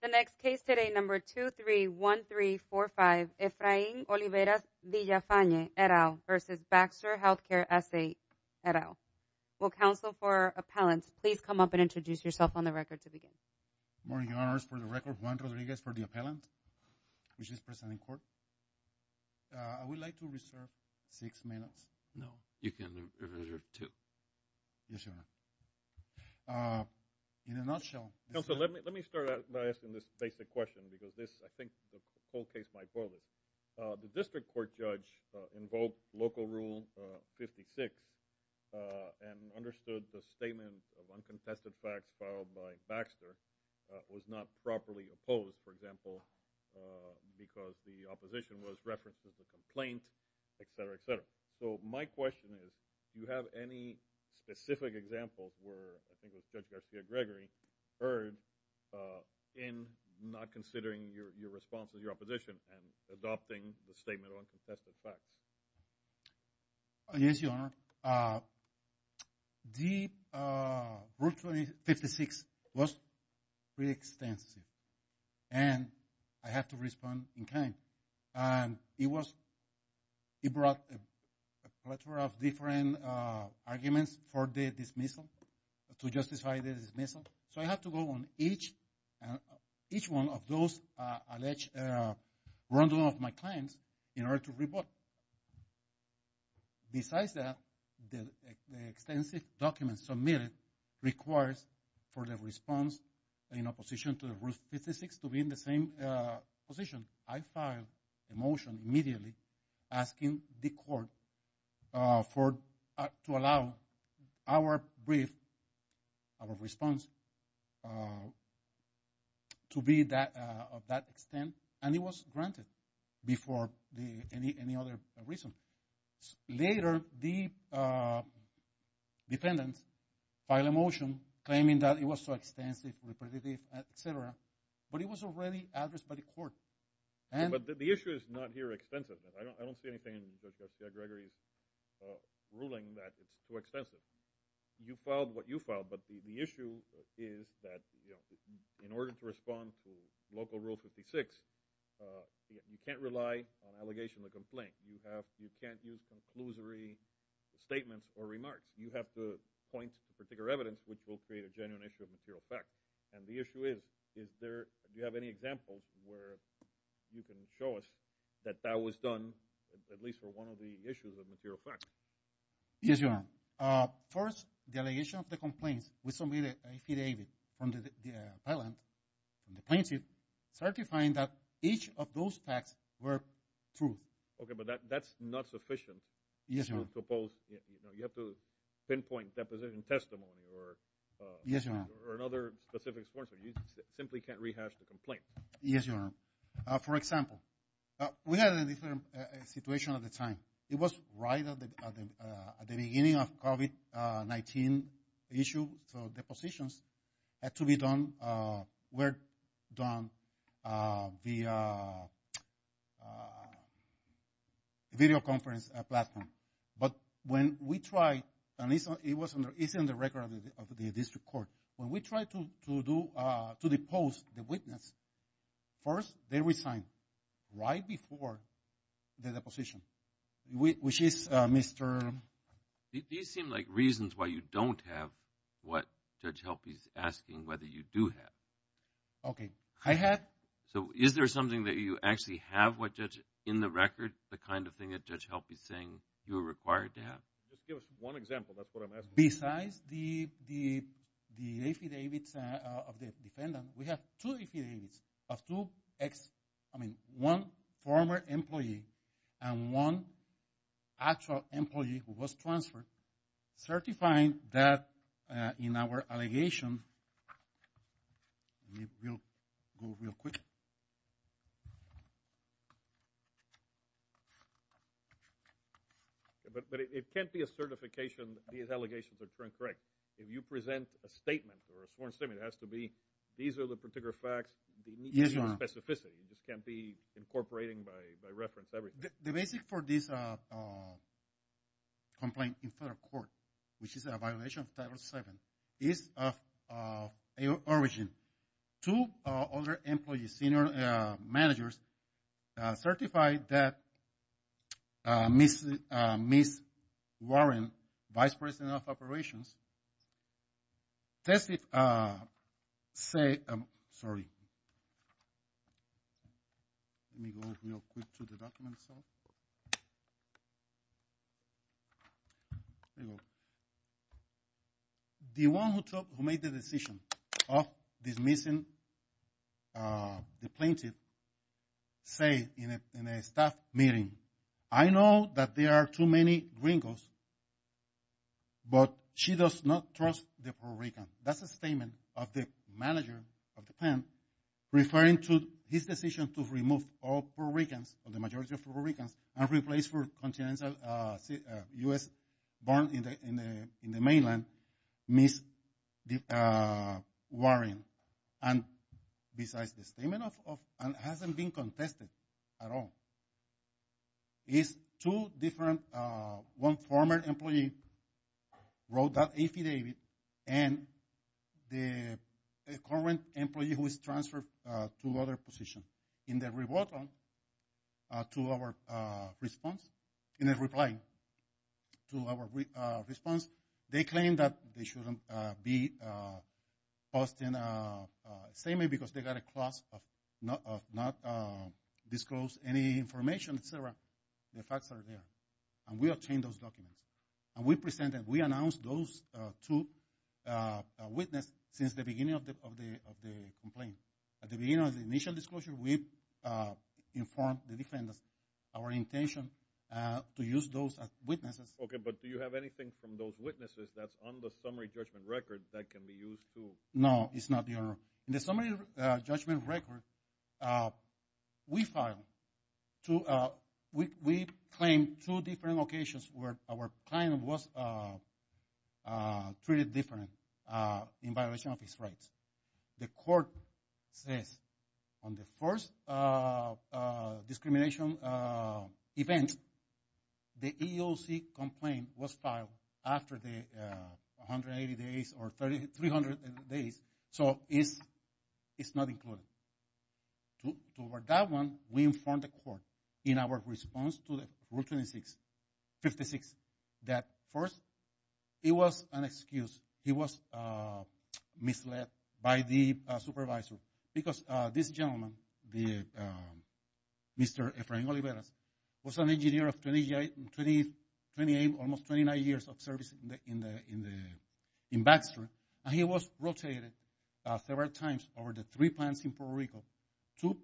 The next case today number 231345 Efrain-Oliveras-Villafane et al. versus Baxter Healthcare SA et al. Will counsel for appellants please come up and introduce yourself on the record to begin. Good morning, your honors. For the record, Juan Rodriguez for the appellant, which is present in court. I would like to reserve six minutes. No, you can reserve two. Yes, your honor. In a nutshell. Counsel, let me start out by asking this basic question because this, I think the whole case might boil this. The district court judge invoked Local Rule 56 and understood the statement of uncontested facts filed by Baxter was not properly opposed, for example, because the opposition was referenced as a complaint, et cetera, et cetera. So my question is, do you have any specific examples where, I think it was Judge Garcia-Gregory, heard in not considering your response to your opposition and adopting the statement of uncontested facts? Yes, your honor. The Rule 56 was pretty extensive. And I have to respond in kind. And it was, it brought a plethora of different arguments for the dismissal, to justify the dismissal. So I have to go on each, each one of those alleged wrongdoing of my clients in order to report. Besides that, the extensive documents submitted requires for the response in opposition to the Rule 56 to be in the same position. I filed a motion immediately asking the court for, to allow our brief, our response to be that, of that extent. And it was granted before any other reason. Later, the defendants filed a motion claiming that it was so extensive, repetitive, et cetera, but it was already addressed by the court. But the issue is not here extensive. I don't see anything in Judge Garcia-Gregory's ruling that it's too extensive. You filed what you filed. But the issue is that, you know, in order to respond to local Rule 56, you can't rely on allegation of complaint. You have, you can't use conclusory statements or remarks. You have to point to particular evidence which will create a genuine issue of material fact. And the issue is, is there, do you have any examples where you can show us that that was done at least for one of the issues of material fact? Yes, your honor. First, the allegation of the complaints was submitted by F.E. David from the appellant, the plaintiff, certifying that each of those facts were true. Okay, but that's not sufficient. To propose, you know, you have to pinpoint deposition testimony or. Yes, your honor. Or another specific source, or you simply can't rehash the complaint. Yes, your honor. For example, we had a different situation at the time. It was right at the beginning of COVID-19 issue. So, depositions had to be done, were done via video conference platform. But when we tried, and it's in the record of the district court. When we tried to do, to depose the witness, first, they resigned right before the deposition. Which is Mr. These seem like reasons why you don't have what Judge Helpe is asking whether you do have. Okay, I have. So, is there something that you actually have what Judge, in the record, the kind of thing that Judge Helpe is saying you are required to have? Just give us one example, that's what I'm asking. Besides the affidavits of the defendant, we have two affidavits of two ex, I mean, one former employee and one actual employee who was transferred. Certifying that in our allegation. We'll go real quick. But it can't be a certification that these allegations are true and correct. If you present a statement or a sworn statement, it has to be, these are the particular facts, you need to show specificity, you just can't be incorporating by reference everything. The basic for this complaint in federal court, which is a violation of Title VII, is of origin. Two other employees, senior managers, certified that Ms. Warren, vice president of operations, tested, say, sorry. Let me go real quick to the documents. Here we go. The one who made the decision of dismissing the plaintiff, say in a staff meeting, I know that there are too many gringos, but she does not trust the Puerto Rican. That's a statement of the manager of the pen, referring to his decision to remove all Puerto Ricans, or the majority of Puerto Ricans, and replace for continental U.S., born in the mainland, Ms. Warren. And besides the statement of, and hasn't been contested at all. It's two different, one former employee wrote that affidavit, and the current employee who is transferred to other position. In the reply to our response, they claim that they shouldn't be posting statement, because they got a clause of not disclose any information, et cetera. The facts are there. And we obtained those documents. And we presented, we announced those two witnesses, since the beginning of the complaint. At the beginning of the initial disclosure, we informed the defendants, our intention to use those as witnesses. Okay, but do you have anything from those witnesses, that's on the summary judgment record, that can be used too? No, it's not there. In the summary judgment record, we filed, we claimed two different locations, where our client was treated differently, in violation of his rights. The court says, on the first discrimination event, the EEOC complaint was filed after the 180 days, or 300 days, so it's not included. To work that one, we informed the court, in our response to Rule 26, 56, that first, it was an excuse, he was misled by the supervisor, because this gentleman, Mr. Efrain Oliveras, was an engineer of 28, 28, almost 29 years of service, in the, in Baxter. And he was rotated several times, over the three plants in Puerto Rico, to,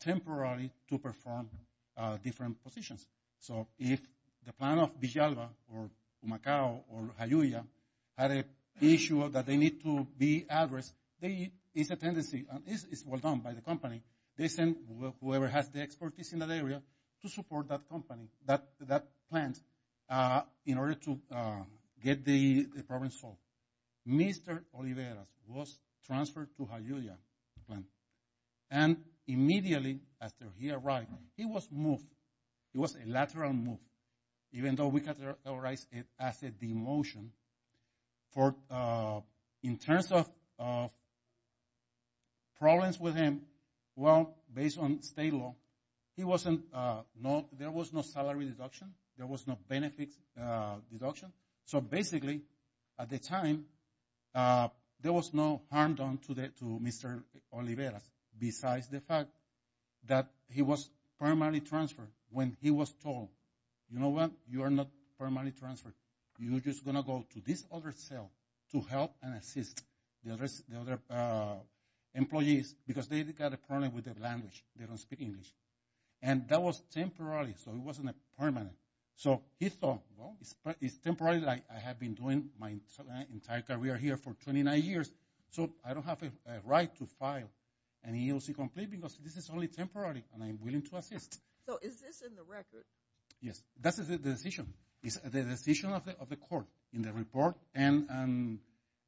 temporarily, to perform different positions. So, if the plan of Villalba, or Macau, or Hayaulia, had an issue that they need to be addressed, there is a tendency, and it's well done by the company, they send whoever has the expertise in that area, to support that company, that plant, in order to get the problem solved. Mr. Oliveras was transferred to Hayaulia plant. And, immediately, after he arrived, he was moved. It was a lateral move. Even though we categorized it as a demotion, for, in terms of, problems with him, well, based on state law, he wasn't, there was no salary deduction, there was no benefits deduction, so basically, at the time, there was no harm done to Mr. Oliveras, besides the fact that he was permanently transferred, when he was told, you know what, you are not permanently transferred, you are just going to go to this other cell, to help and assist the other employees, because they got a problem with their language, they don't speak English. And that was temporary, so it wasn't permanent. So, he thought, well, it's temporary, I have been doing my entire career here for 29 years, so I don't have a right to file an EEOC complaint, because this is only temporary, and I'm willing to assist. So, is this in the record? Yes, that's the decision. It's the decision of the court, in the report, and,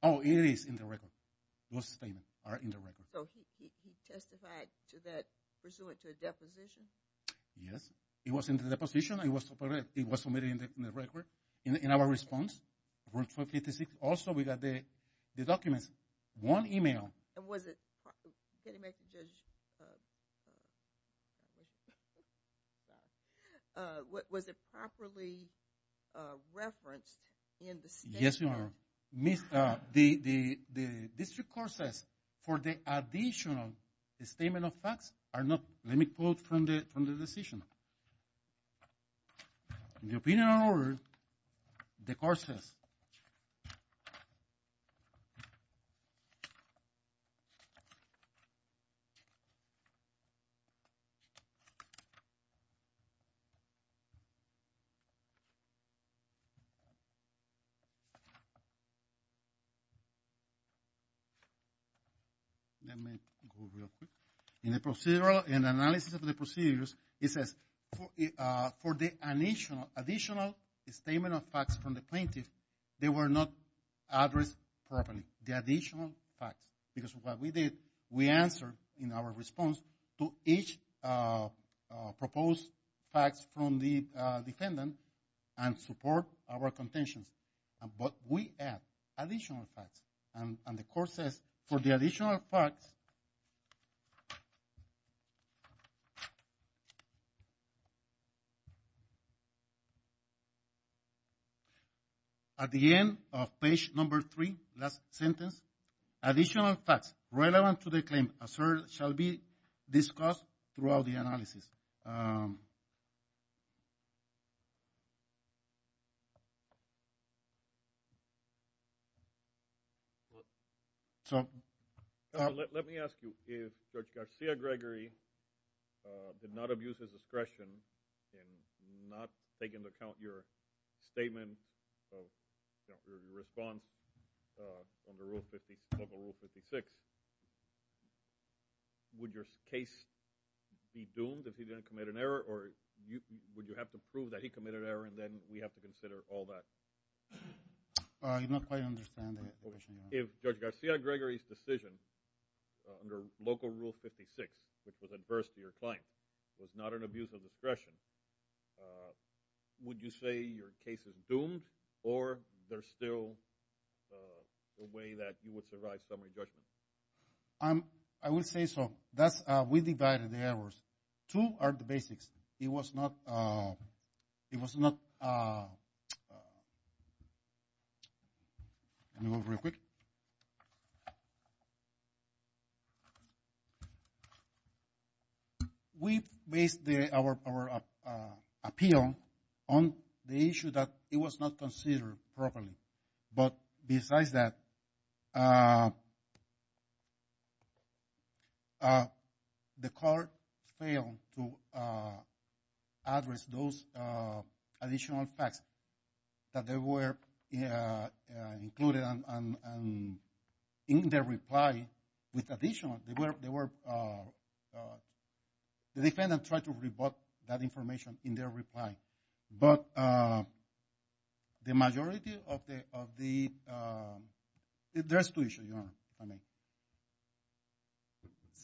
oh, it is in the record. Those statements are in the record. So, he testified to that, pursuant to a deposition? Yes, it was in the deposition, and it was submitted in the record, in our response. Also, we got the documents, one email. And was it, can you make it, was it properly referenced in the statement? Yes, Your Honor. The district court says, for the additional statement of facts, are not, let me quote from the decision. In the opinion of the court says, let me go real quick. In the procedural, in the analysis of the procedures, it says, for the additional statement of facts from the plaintiff, they were not addressed properly. The additional facts. Because what we did, we answered, in our response, to each proposed facts from the defendant, and support our contentions. But we add additional facts. And the court says, for the additional facts, At the end of page number three, last sentence, additional facts relevant to the claim shall be discussed throughout the analysis. So, Let me ask you, if Judge Garcia-Gregory did not abuse his power, did not abuse his discretion, in not taking into account your statement, your response, under Local Rule 56, would your case be doomed, if he didn't commit an error, or would you have to prove that he committed an error, and then we have to consider all that? I do not quite understand the question, Your Honor. If Judge Garcia-Gregory's decision, under Local Rule 56, which was adverse to your claim, was not an abuse of discretion, would you say your case is doomed, or there's still a way that you would survive summary judgment? I would say so. We divided the errors. Two are the basics. It was not, It was not, Let me go over it real quick. We based our appeal We based our appeal on the issue that it was not considered properly. But besides that, the court failed to address those additional facts that were included in their reply, with additional, the defendant tried to rebut that information in their reply. the majority of the There's two issues, Your Honor.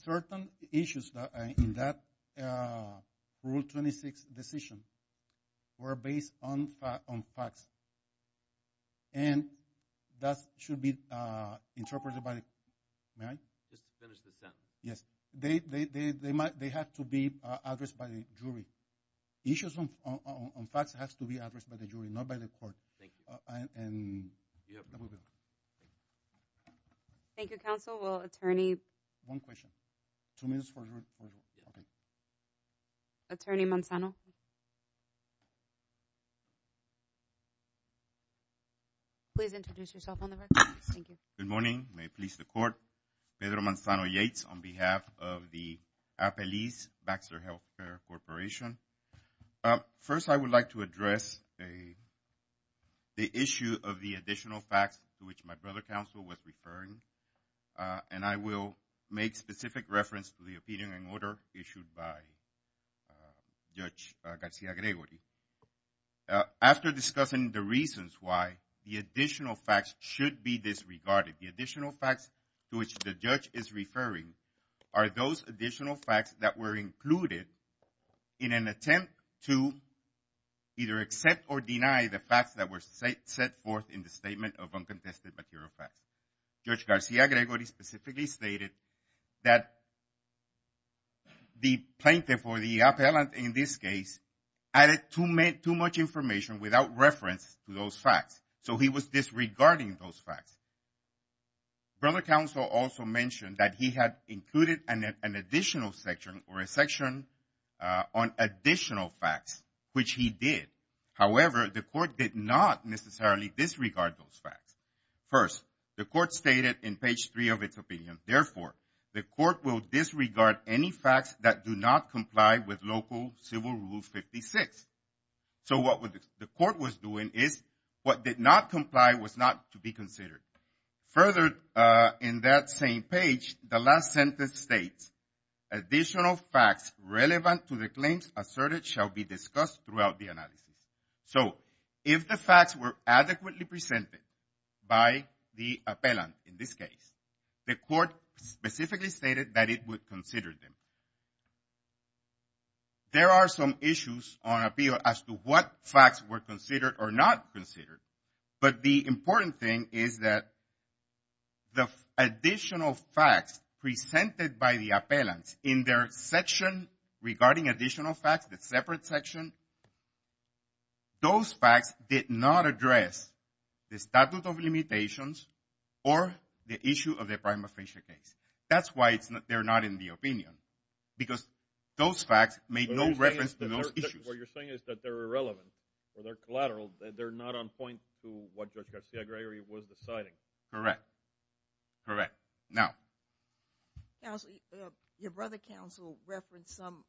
Certain issues in that Rule 26 decision were based on facts. And that should be interpreted by Yes. They have to be addressed by the jury. Issues on facts have to be addressed by the jury, not by the court. Thank you, Counsel. Will Attorney One question. Attorney Manzano? Please introduce yourself on the record. Thank you. Good morning. May it please the court. Pedro Manzano Yates on behalf of the Apeliz Baxter Healthcare Corporation. First, I would like to address the issue of the additional facts to which my brother counsel was referring. And I will make specific reference to the opinion and order issued by Judge Garcia-Gregory. After discussing the reasons why the additional facts should be disregarded, the additional facts to which the judge is referring are those additional facts that were included in an attempt to either accept or deny the facts that were set forth in the Statement of Uncontested Material Facts. Judge Garcia-Gregory specifically stated that the plaintiff or the appellant in this case added too much information without reference to those facts. So he was disregarding those facts. Brother counsel also mentioned that he had included an additional section or a section on additional facts which he did. However, the court did not necessarily disregard those facts. First, the court stated in page 3 of its opinion, therefore, the court will disregard any facts that do not comply with local Civil Rule 56. So what the court was doing is what did not comply was not to be considered. Further, in that same page, the last sentence states additional facts relevant to the claims asserted shall be discussed throughout the analysis. So if the facts were adequately presented by the appellant in this case, the court specifically stated that it would consider them. There are some issues on appeal as to what facts were considered or not considered, but the important thing is that the additional facts presented by the appellant in their section regarding additional facts, the separate section, those facts did not address the statute of limitations or the issue of the prima facie case. That's why they're not in the opinion because those facts made no reference to those issues. What you're saying is that they're irrelevant or they're collateral. They're not on point to what Judge Garcia-Gregory was deciding. Correct. Correct. Now. Your brother counsel referenced some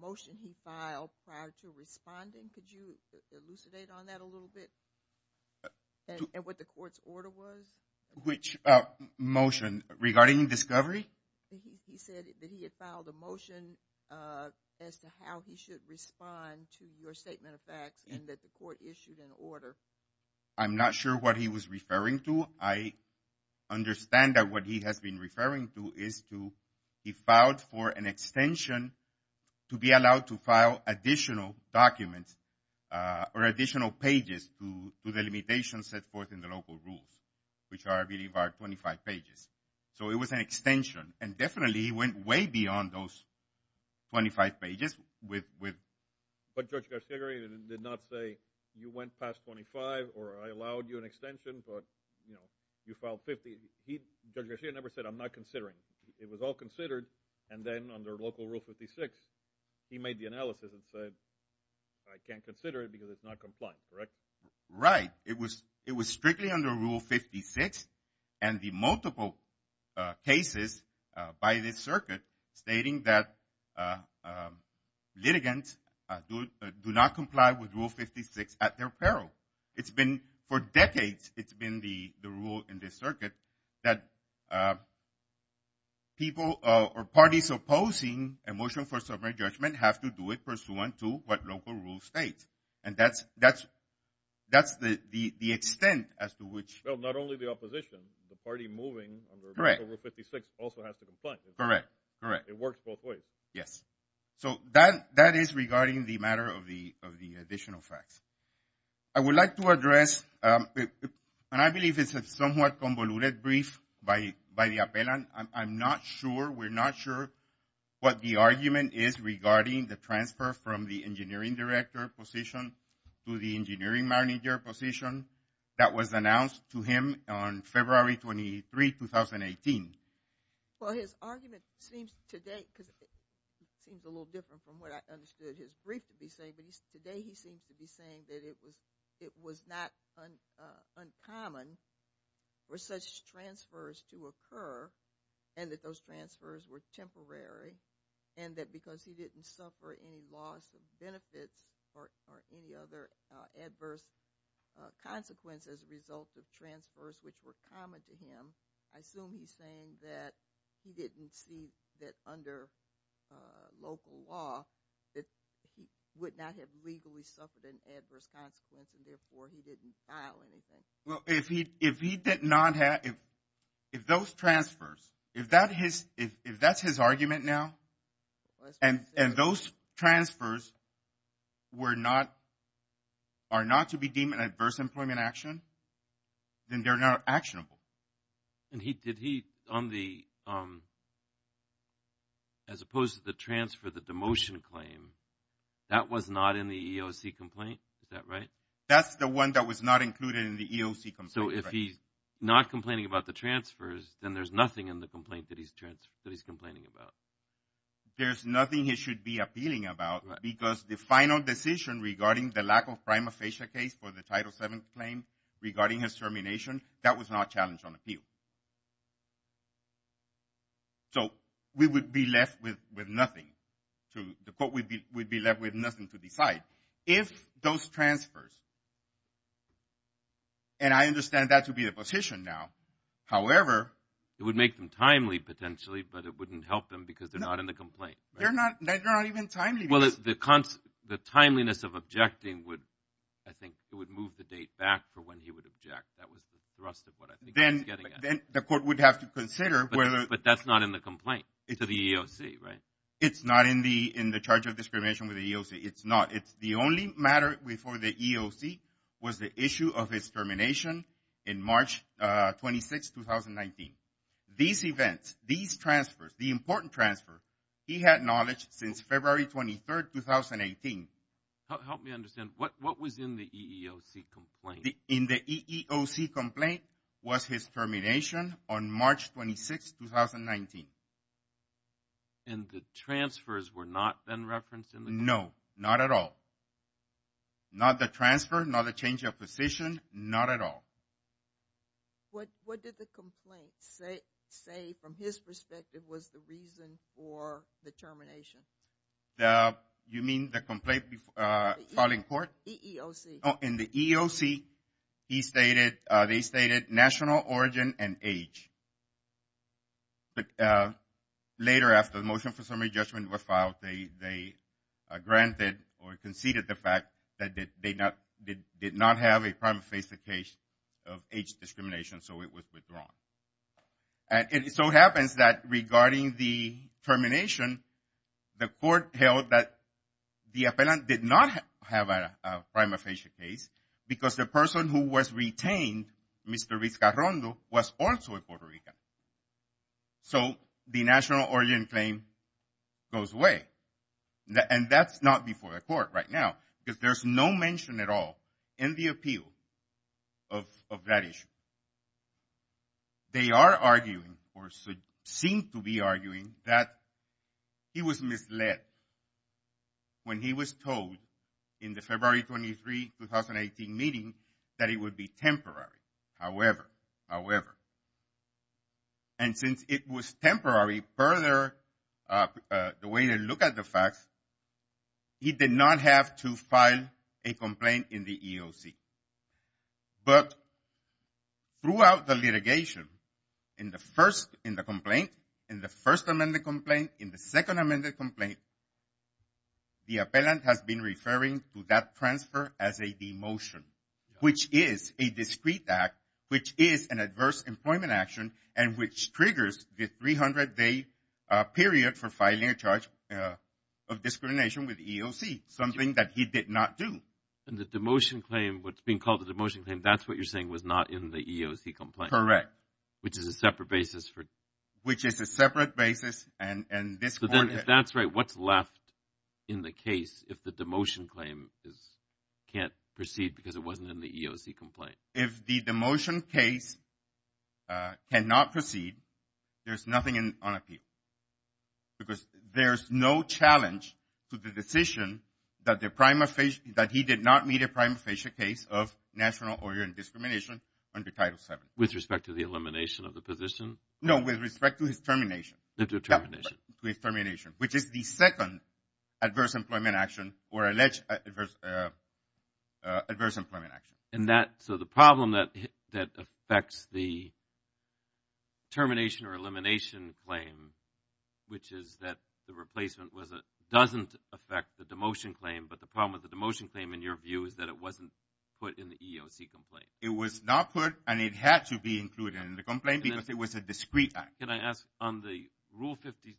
motion he filed prior to responding. Could you elucidate on that a little bit? And what the court's order was? Which motion? Regarding discovery? He said that he had filed a motion as to how he should respond to your statement of facts and that the court issued an order. I'm not sure what he was referring to. I understand that what he has been referring to is to, he filed for an extension to be allowed to file additional documents or additional pages to the limitations set forth in the local rules, which I believe are 25 pages. So it was an extension and definitely he went way beyond those 25 pages with But Judge Garcia-Gregory did not say you went past 25 or I allowed you an extension but you filed 50. Judge Garcia-Gregory never said I'm not considering. It was all considered and then under local rule 56 he made the analysis and said I can't consider it because it's not compliant. Correct? Right. It was strictly under rule 56 and the multiple cases by this circuit stating that litigants do not comply with rule 56 at their peril. It's been for decades, it's been the rule in this circuit that people or parties opposing a motion for summary judgment have to do it pursuant to what local rule states and that's the extent as to which... Not only the opposition the party moving under rule 56 also has to complain. Correct. It works both ways. Yes. So that is regarding the matter of the additional facts. I would like to address, and I believe it's a somewhat convoluted brief by the appellant. I'm not sure, we're not sure what the argument is regarding the transfer from the engineering director position to the engineering manager position that was announced to him on February 23, 2018. Well his argument seems today, because it seems a little different from what I understood his brief to be saying, but today he seems to be saying that it was not uncommon for such transfers to occur and that those transfers were temporary and that because he didn't suffer any loss of benefits or any other adverse consequences as a result of transfers which were common to him. I assume he's saying that he didn't see that under local law that he would not have legally suffered an adverse consequence and therefore he didn't file anything. If those transfers, if that's his argument now, and those transfers were not, are not to be deemed an adverse employment action, then they're not actionable. Did he, on the, as opposed to the transfer, the demotion claim, that was not in the EOC complaint, is that right? That's the one that was not included in the EOC complaint. So if he's not complaining about the transfers, then there's nothing in the complaint that he's complaining about. There's nothing he should be appealing about because the final decision regarding the lack of prima facie case for the Title VII claim regarding his termination, that was not challenged on appeal. So we would be left with nothing to, we'd be left with nothing to decide. If those transfers, and I understand that to be the position now. However, it would make them timely potentially, but it wouldn't help them because they're not in the complaint. They're not even timely. The timeliness of objecting would, I think, it would move the date back for when he would object. That was the thrust of what I think he was getting at. Then the court would have to consider whether... But that's not in the complaint to the EOC, right? It's not in the charge of discrimination with the EOC. It's not. The only matter before the EOC was the issue of his termination in March 26, 2019. These events, these transfers, the important transfers, he had knowledge since February 23, 2018. Help me understand. What was in the EEOC complaint? In the EEOC complaint was his termination on March 26, 2019. And the transfers were not then referenced in the complaint? No, not at all. Not the transfer, not the change of position, not at all. What did the complaint say from his perspective was the reason for the termination? You mean the complaint filed in court? EEOC. Oh, in the EEOC he stated, they stated national origin and age. Later after the motion for summary judgment was filed, they granted or conceded the fact that they did not have a prima facie case of age discrimination, so it was withdrawn. And so it happens that regarding the termination, the court held that the appellant did not have a prima facie case because the person who was retained, Mr. Riz Carrondo, was also a Puerto Rican. So, the national origin claim goes away. And that's not before the court right now because there's no mention at all in the appeal of that issue. They are arguing or seem to be arguing that he was misled when he was told in the February 23, 2018 meeting that it would be temporary. However, however, and since it was temporary, the way they look at the facts, he did not have to file a complaint in the EOC. But throughout the litigation in the first, in the complaint, in the first amended complaint, in the second amended complaint, the appellant has been referring to that transfer as a demotion, which is a discreet act, which is an adverse employment action, and which triggers the 300-day period for filing a charge of discrimination with the EOC, something that he did not do. And the demotion claim, what's being called the demotion claim, that's what you're saying was not in the EOC complaint. Correct. Which is a separate basis for... Which is a separate basis, and this court... So then, if that's right, what's left in the case if the demotion claim is, can't proceed because it wasn't in the EOC complaint? If the demotion case cannot proceed, there's nothing on appeal. Because there's no challenge to the decision that the prima facie, that he did not meet a prima facie case of national order and discrimination under Title VII. With respect to the elimination of the position? No, with respect to his termination. The determination. Which is the second adverse employment action, or alleged adverse employment action. And that, so the problem that affects the termination or elimination claim, which is that the replacement doesn't affect the demotion claim, but the problem with the demotion claim, in your view, is that it wasn't put in the EOC complaint. It was not put, and it had to be included in the complaint because it was a discrete act. Can I ask, on the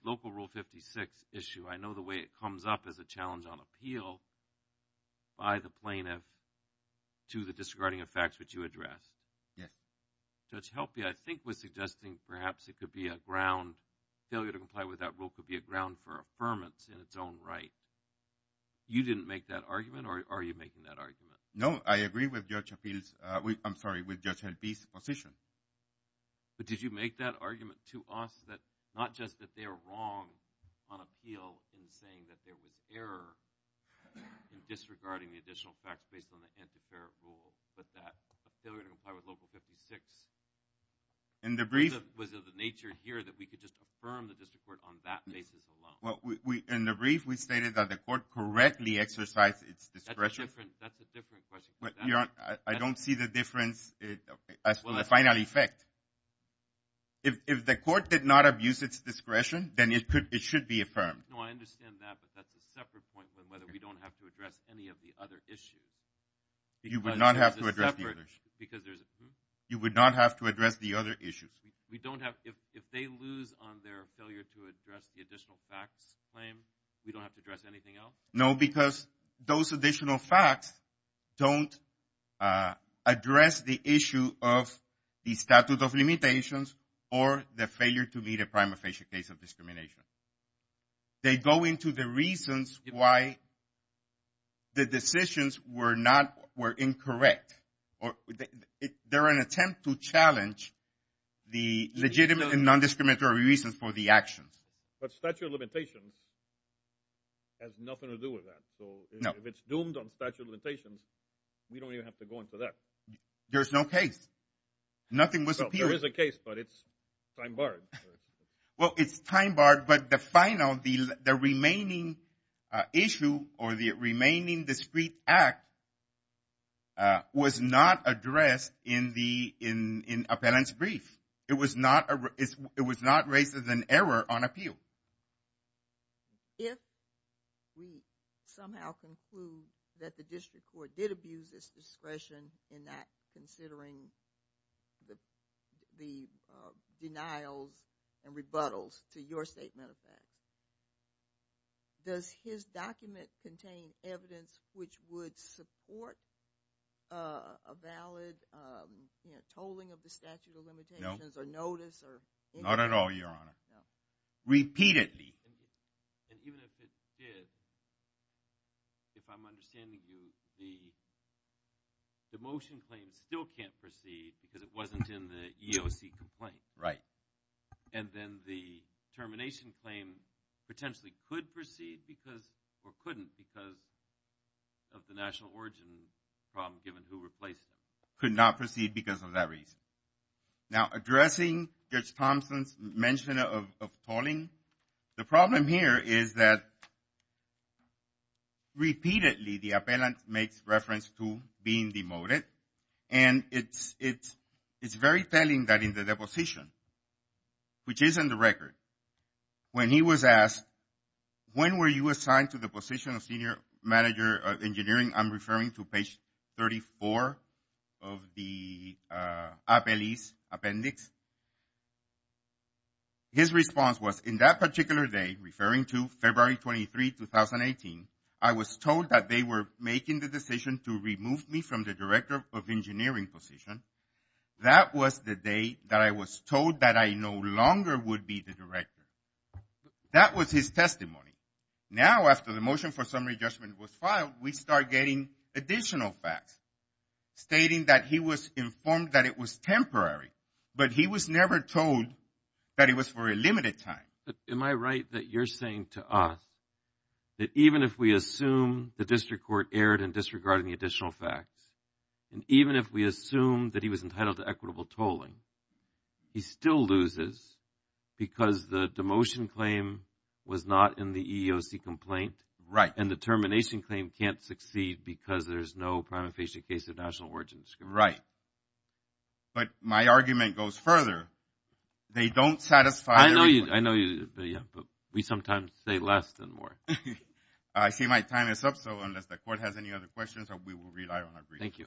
local Rule 56 issue, I know the way it comes up as a challenge on appeal by the plaintiff to the disregarding of facts which you addressed. Yes. Judge Helpe, I think, was suggesting perhaps it could be a ground, failure to comply with that rule could be a ground for affirmance in its own right. You didn't make that argument, or are you making that argument? No, I agree with Judge Helpe's, I'm sorry, with Judge Helpe's position. But did you make that argument to us that not just that they're wrong on appeal in saying that there was error in disregarding the additional facts based on the anti-fair rule, but that a failure to comply with Local 56 was of the nature here that we could just affirm the district court on that basis alone? In the brief, we stated that the court correctly exercised its discretion. That's a different question. I don't see the difference as to the final effect. If the court did not use its discretion, then it should be affirmed. No, I understand that, but that's a separate point with whether we don't have to address any of the other issues. You would not have to address the other issues. You would not have to address the other issues. If they lose on their failure to address the additional facts claim, we don't have to address anything else? No, because those additional facts don't address the issue of the statute of limitations or the failure to meet a prima facie case of discrimination. They go into the reasons why the decisions were incorrect. They're an attempt to challenge the legitimate and non-discriminatory reasons for the actions. But statute of limitations has nothing to do with that. If it's doomed on statute of limitations, we don't even have to go into that. There's no case. Nothing was appealed. There is a case, but it's time-barred. Well, it's time-barred, but the final, the remaining issue or the remaining discrete act was not addressed in the appellant's brief. It was not raised as an error on appeal. If we somehow conclude that the district court did abuse its discretion in not considering the denials and rebuttals to your statement of facts, does his document contain evidence which would support a valid tolling of the statute of limitations or notice? Not at all, Your Honor. Repeatedly. And even if it did, if I'm understanding you, the motion claim still can't proceed because it wasn't in the EEOC complaint. Right. And then the termination claim potentially could proceed because, or couldn't because of the national origin problem given who replaced it. Could not proceed because of that reason. Now, addressing Judge Thompson's mention of tolling, the problem here is that repeatedly the appellant makes reference to being demoted. And it's very telling that in the deposition, which is in the record, when he was asked, when were you assigned to the position of senior manager of engineering, I'm referring to page 34 of the appellee's appendix, his response was in that particular day, referring to February 23, 2018, I was told that they were making the decision to remove me from the director of engineering position. That was the day that I was told that I no longer would be the director. That was his testimony. Now, after the motion for summary judgment was filed, we start getting additional facts stating that he was informed that it was temporary, but he was never told that it was for a limited time. Am I right that you're saying to us that even if we assume the district court erred in disregarding the additional facts, and even if we assume that he was entitled to equitable tolling, he still loses because the demotion claim was not in the EEOC complaint, and the termination claim can't succeed because there's no prima facie case of national origin. Right. But my argument goes further. They don't satisfy I know you, but we sometimes say less than more. I see my time is up, so unless the court has any other questions, we will rely on our brief. Thank you.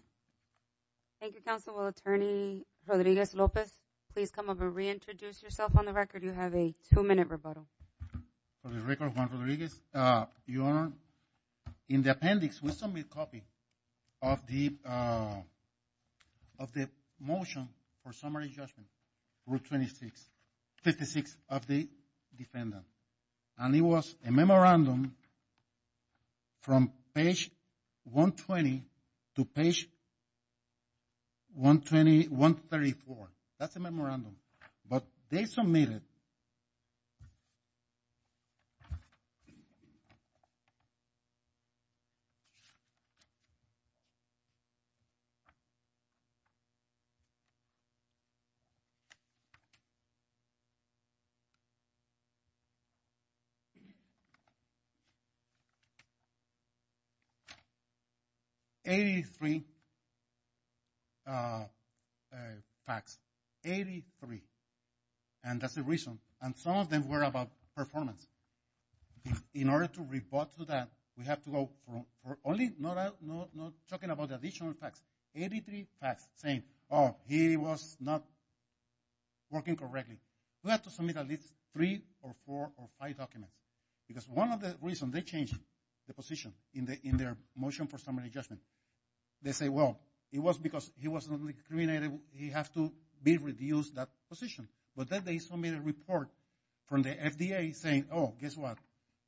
Thank you, Counsel. Will Attorney Rodriguez-Lopez please come up and reintroduce yourself on the record? You have a two-minute rebuttal. For the record, Juan Rodriguez, Your Honor, in the appendix, we submitted a copy of the motion for summary judgment, Route 56 of the defendant, and it was a memorandum from page 120 to page 134. That's a memorandum, but they submitted 83 83 facts. And that's the reason. And some of them were about performance. In order to rebut to that, we have to go for only, not talking about additional facts, 83 facts, saying, oh, he was not working correctly. We have to submit at least three or four or five documents because one of the reasons they changed the position in their motion for summary judgment, they say, well, it was because he was not discriminated, he has to be reduced that position. But then they submitted a report from the FDA saying, oh, guess what,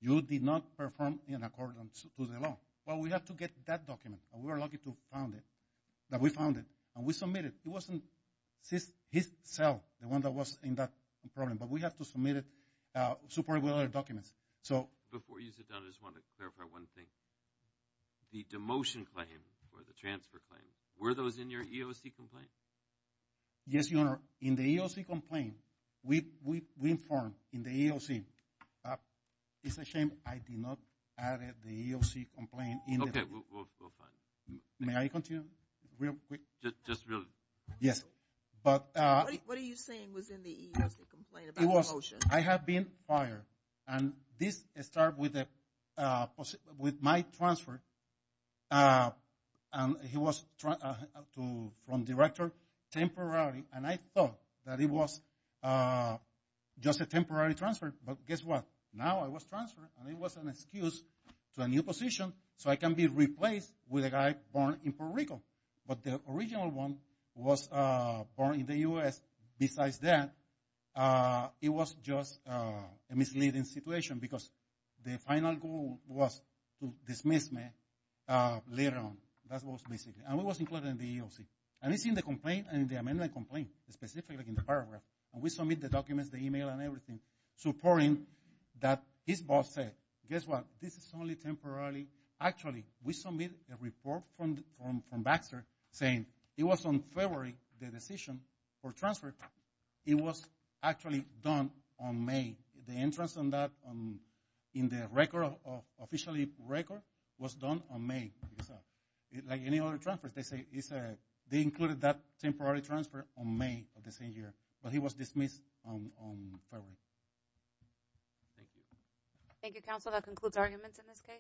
you did not perform in accordance to the law. Well, we have to get that document. And we were lucky to found it, that we found it, and we submitted it. It wasn't his cell, the one that was in that problem, but we have to submit it, supported with other documents. So... Before you sit down, I just want to clarify one thing. The demotion claim or the transfer claim, were those in your EEOC complaint? Yes, Your Honor. In the EEOC complaint, we informed in the EEOC it's a shame I did not add it, the EEOC complaint. Okay, we're fine. May I continue real quick? Just really. Yes. But... What are you saying was in the EEOC complaint about the motion? I have been fired, and this start with my transfer. And he was from director temporarily, and I thought that it was just a temporary transfer, but guess what, now I was transferred, and it was an excuse to a new position so I can be replaced with a guy born in Puerto Rico. But the original one was born in the U.S. Besides that, it was just a misleading situation because the final goal was to dismiss me later on. That was basically... And it was included in the EEOC. And it's in the complaint, in the amendment complaint, specifically in the paragraph. And we submit the documents, the email, and everything, supporting that his boss said, guess what, this is only temporarily. Actually, we submit a report from Baxter saying it was on February, the decision for transfer, it was actually done on May. The entrance on that in the record, officially record, was done on May. Like any other transfer, they say they included that temporary transfer on May of the same year, but he was dismissed on February. Thank you. Thank you, counsel. That concludes arguments in this case.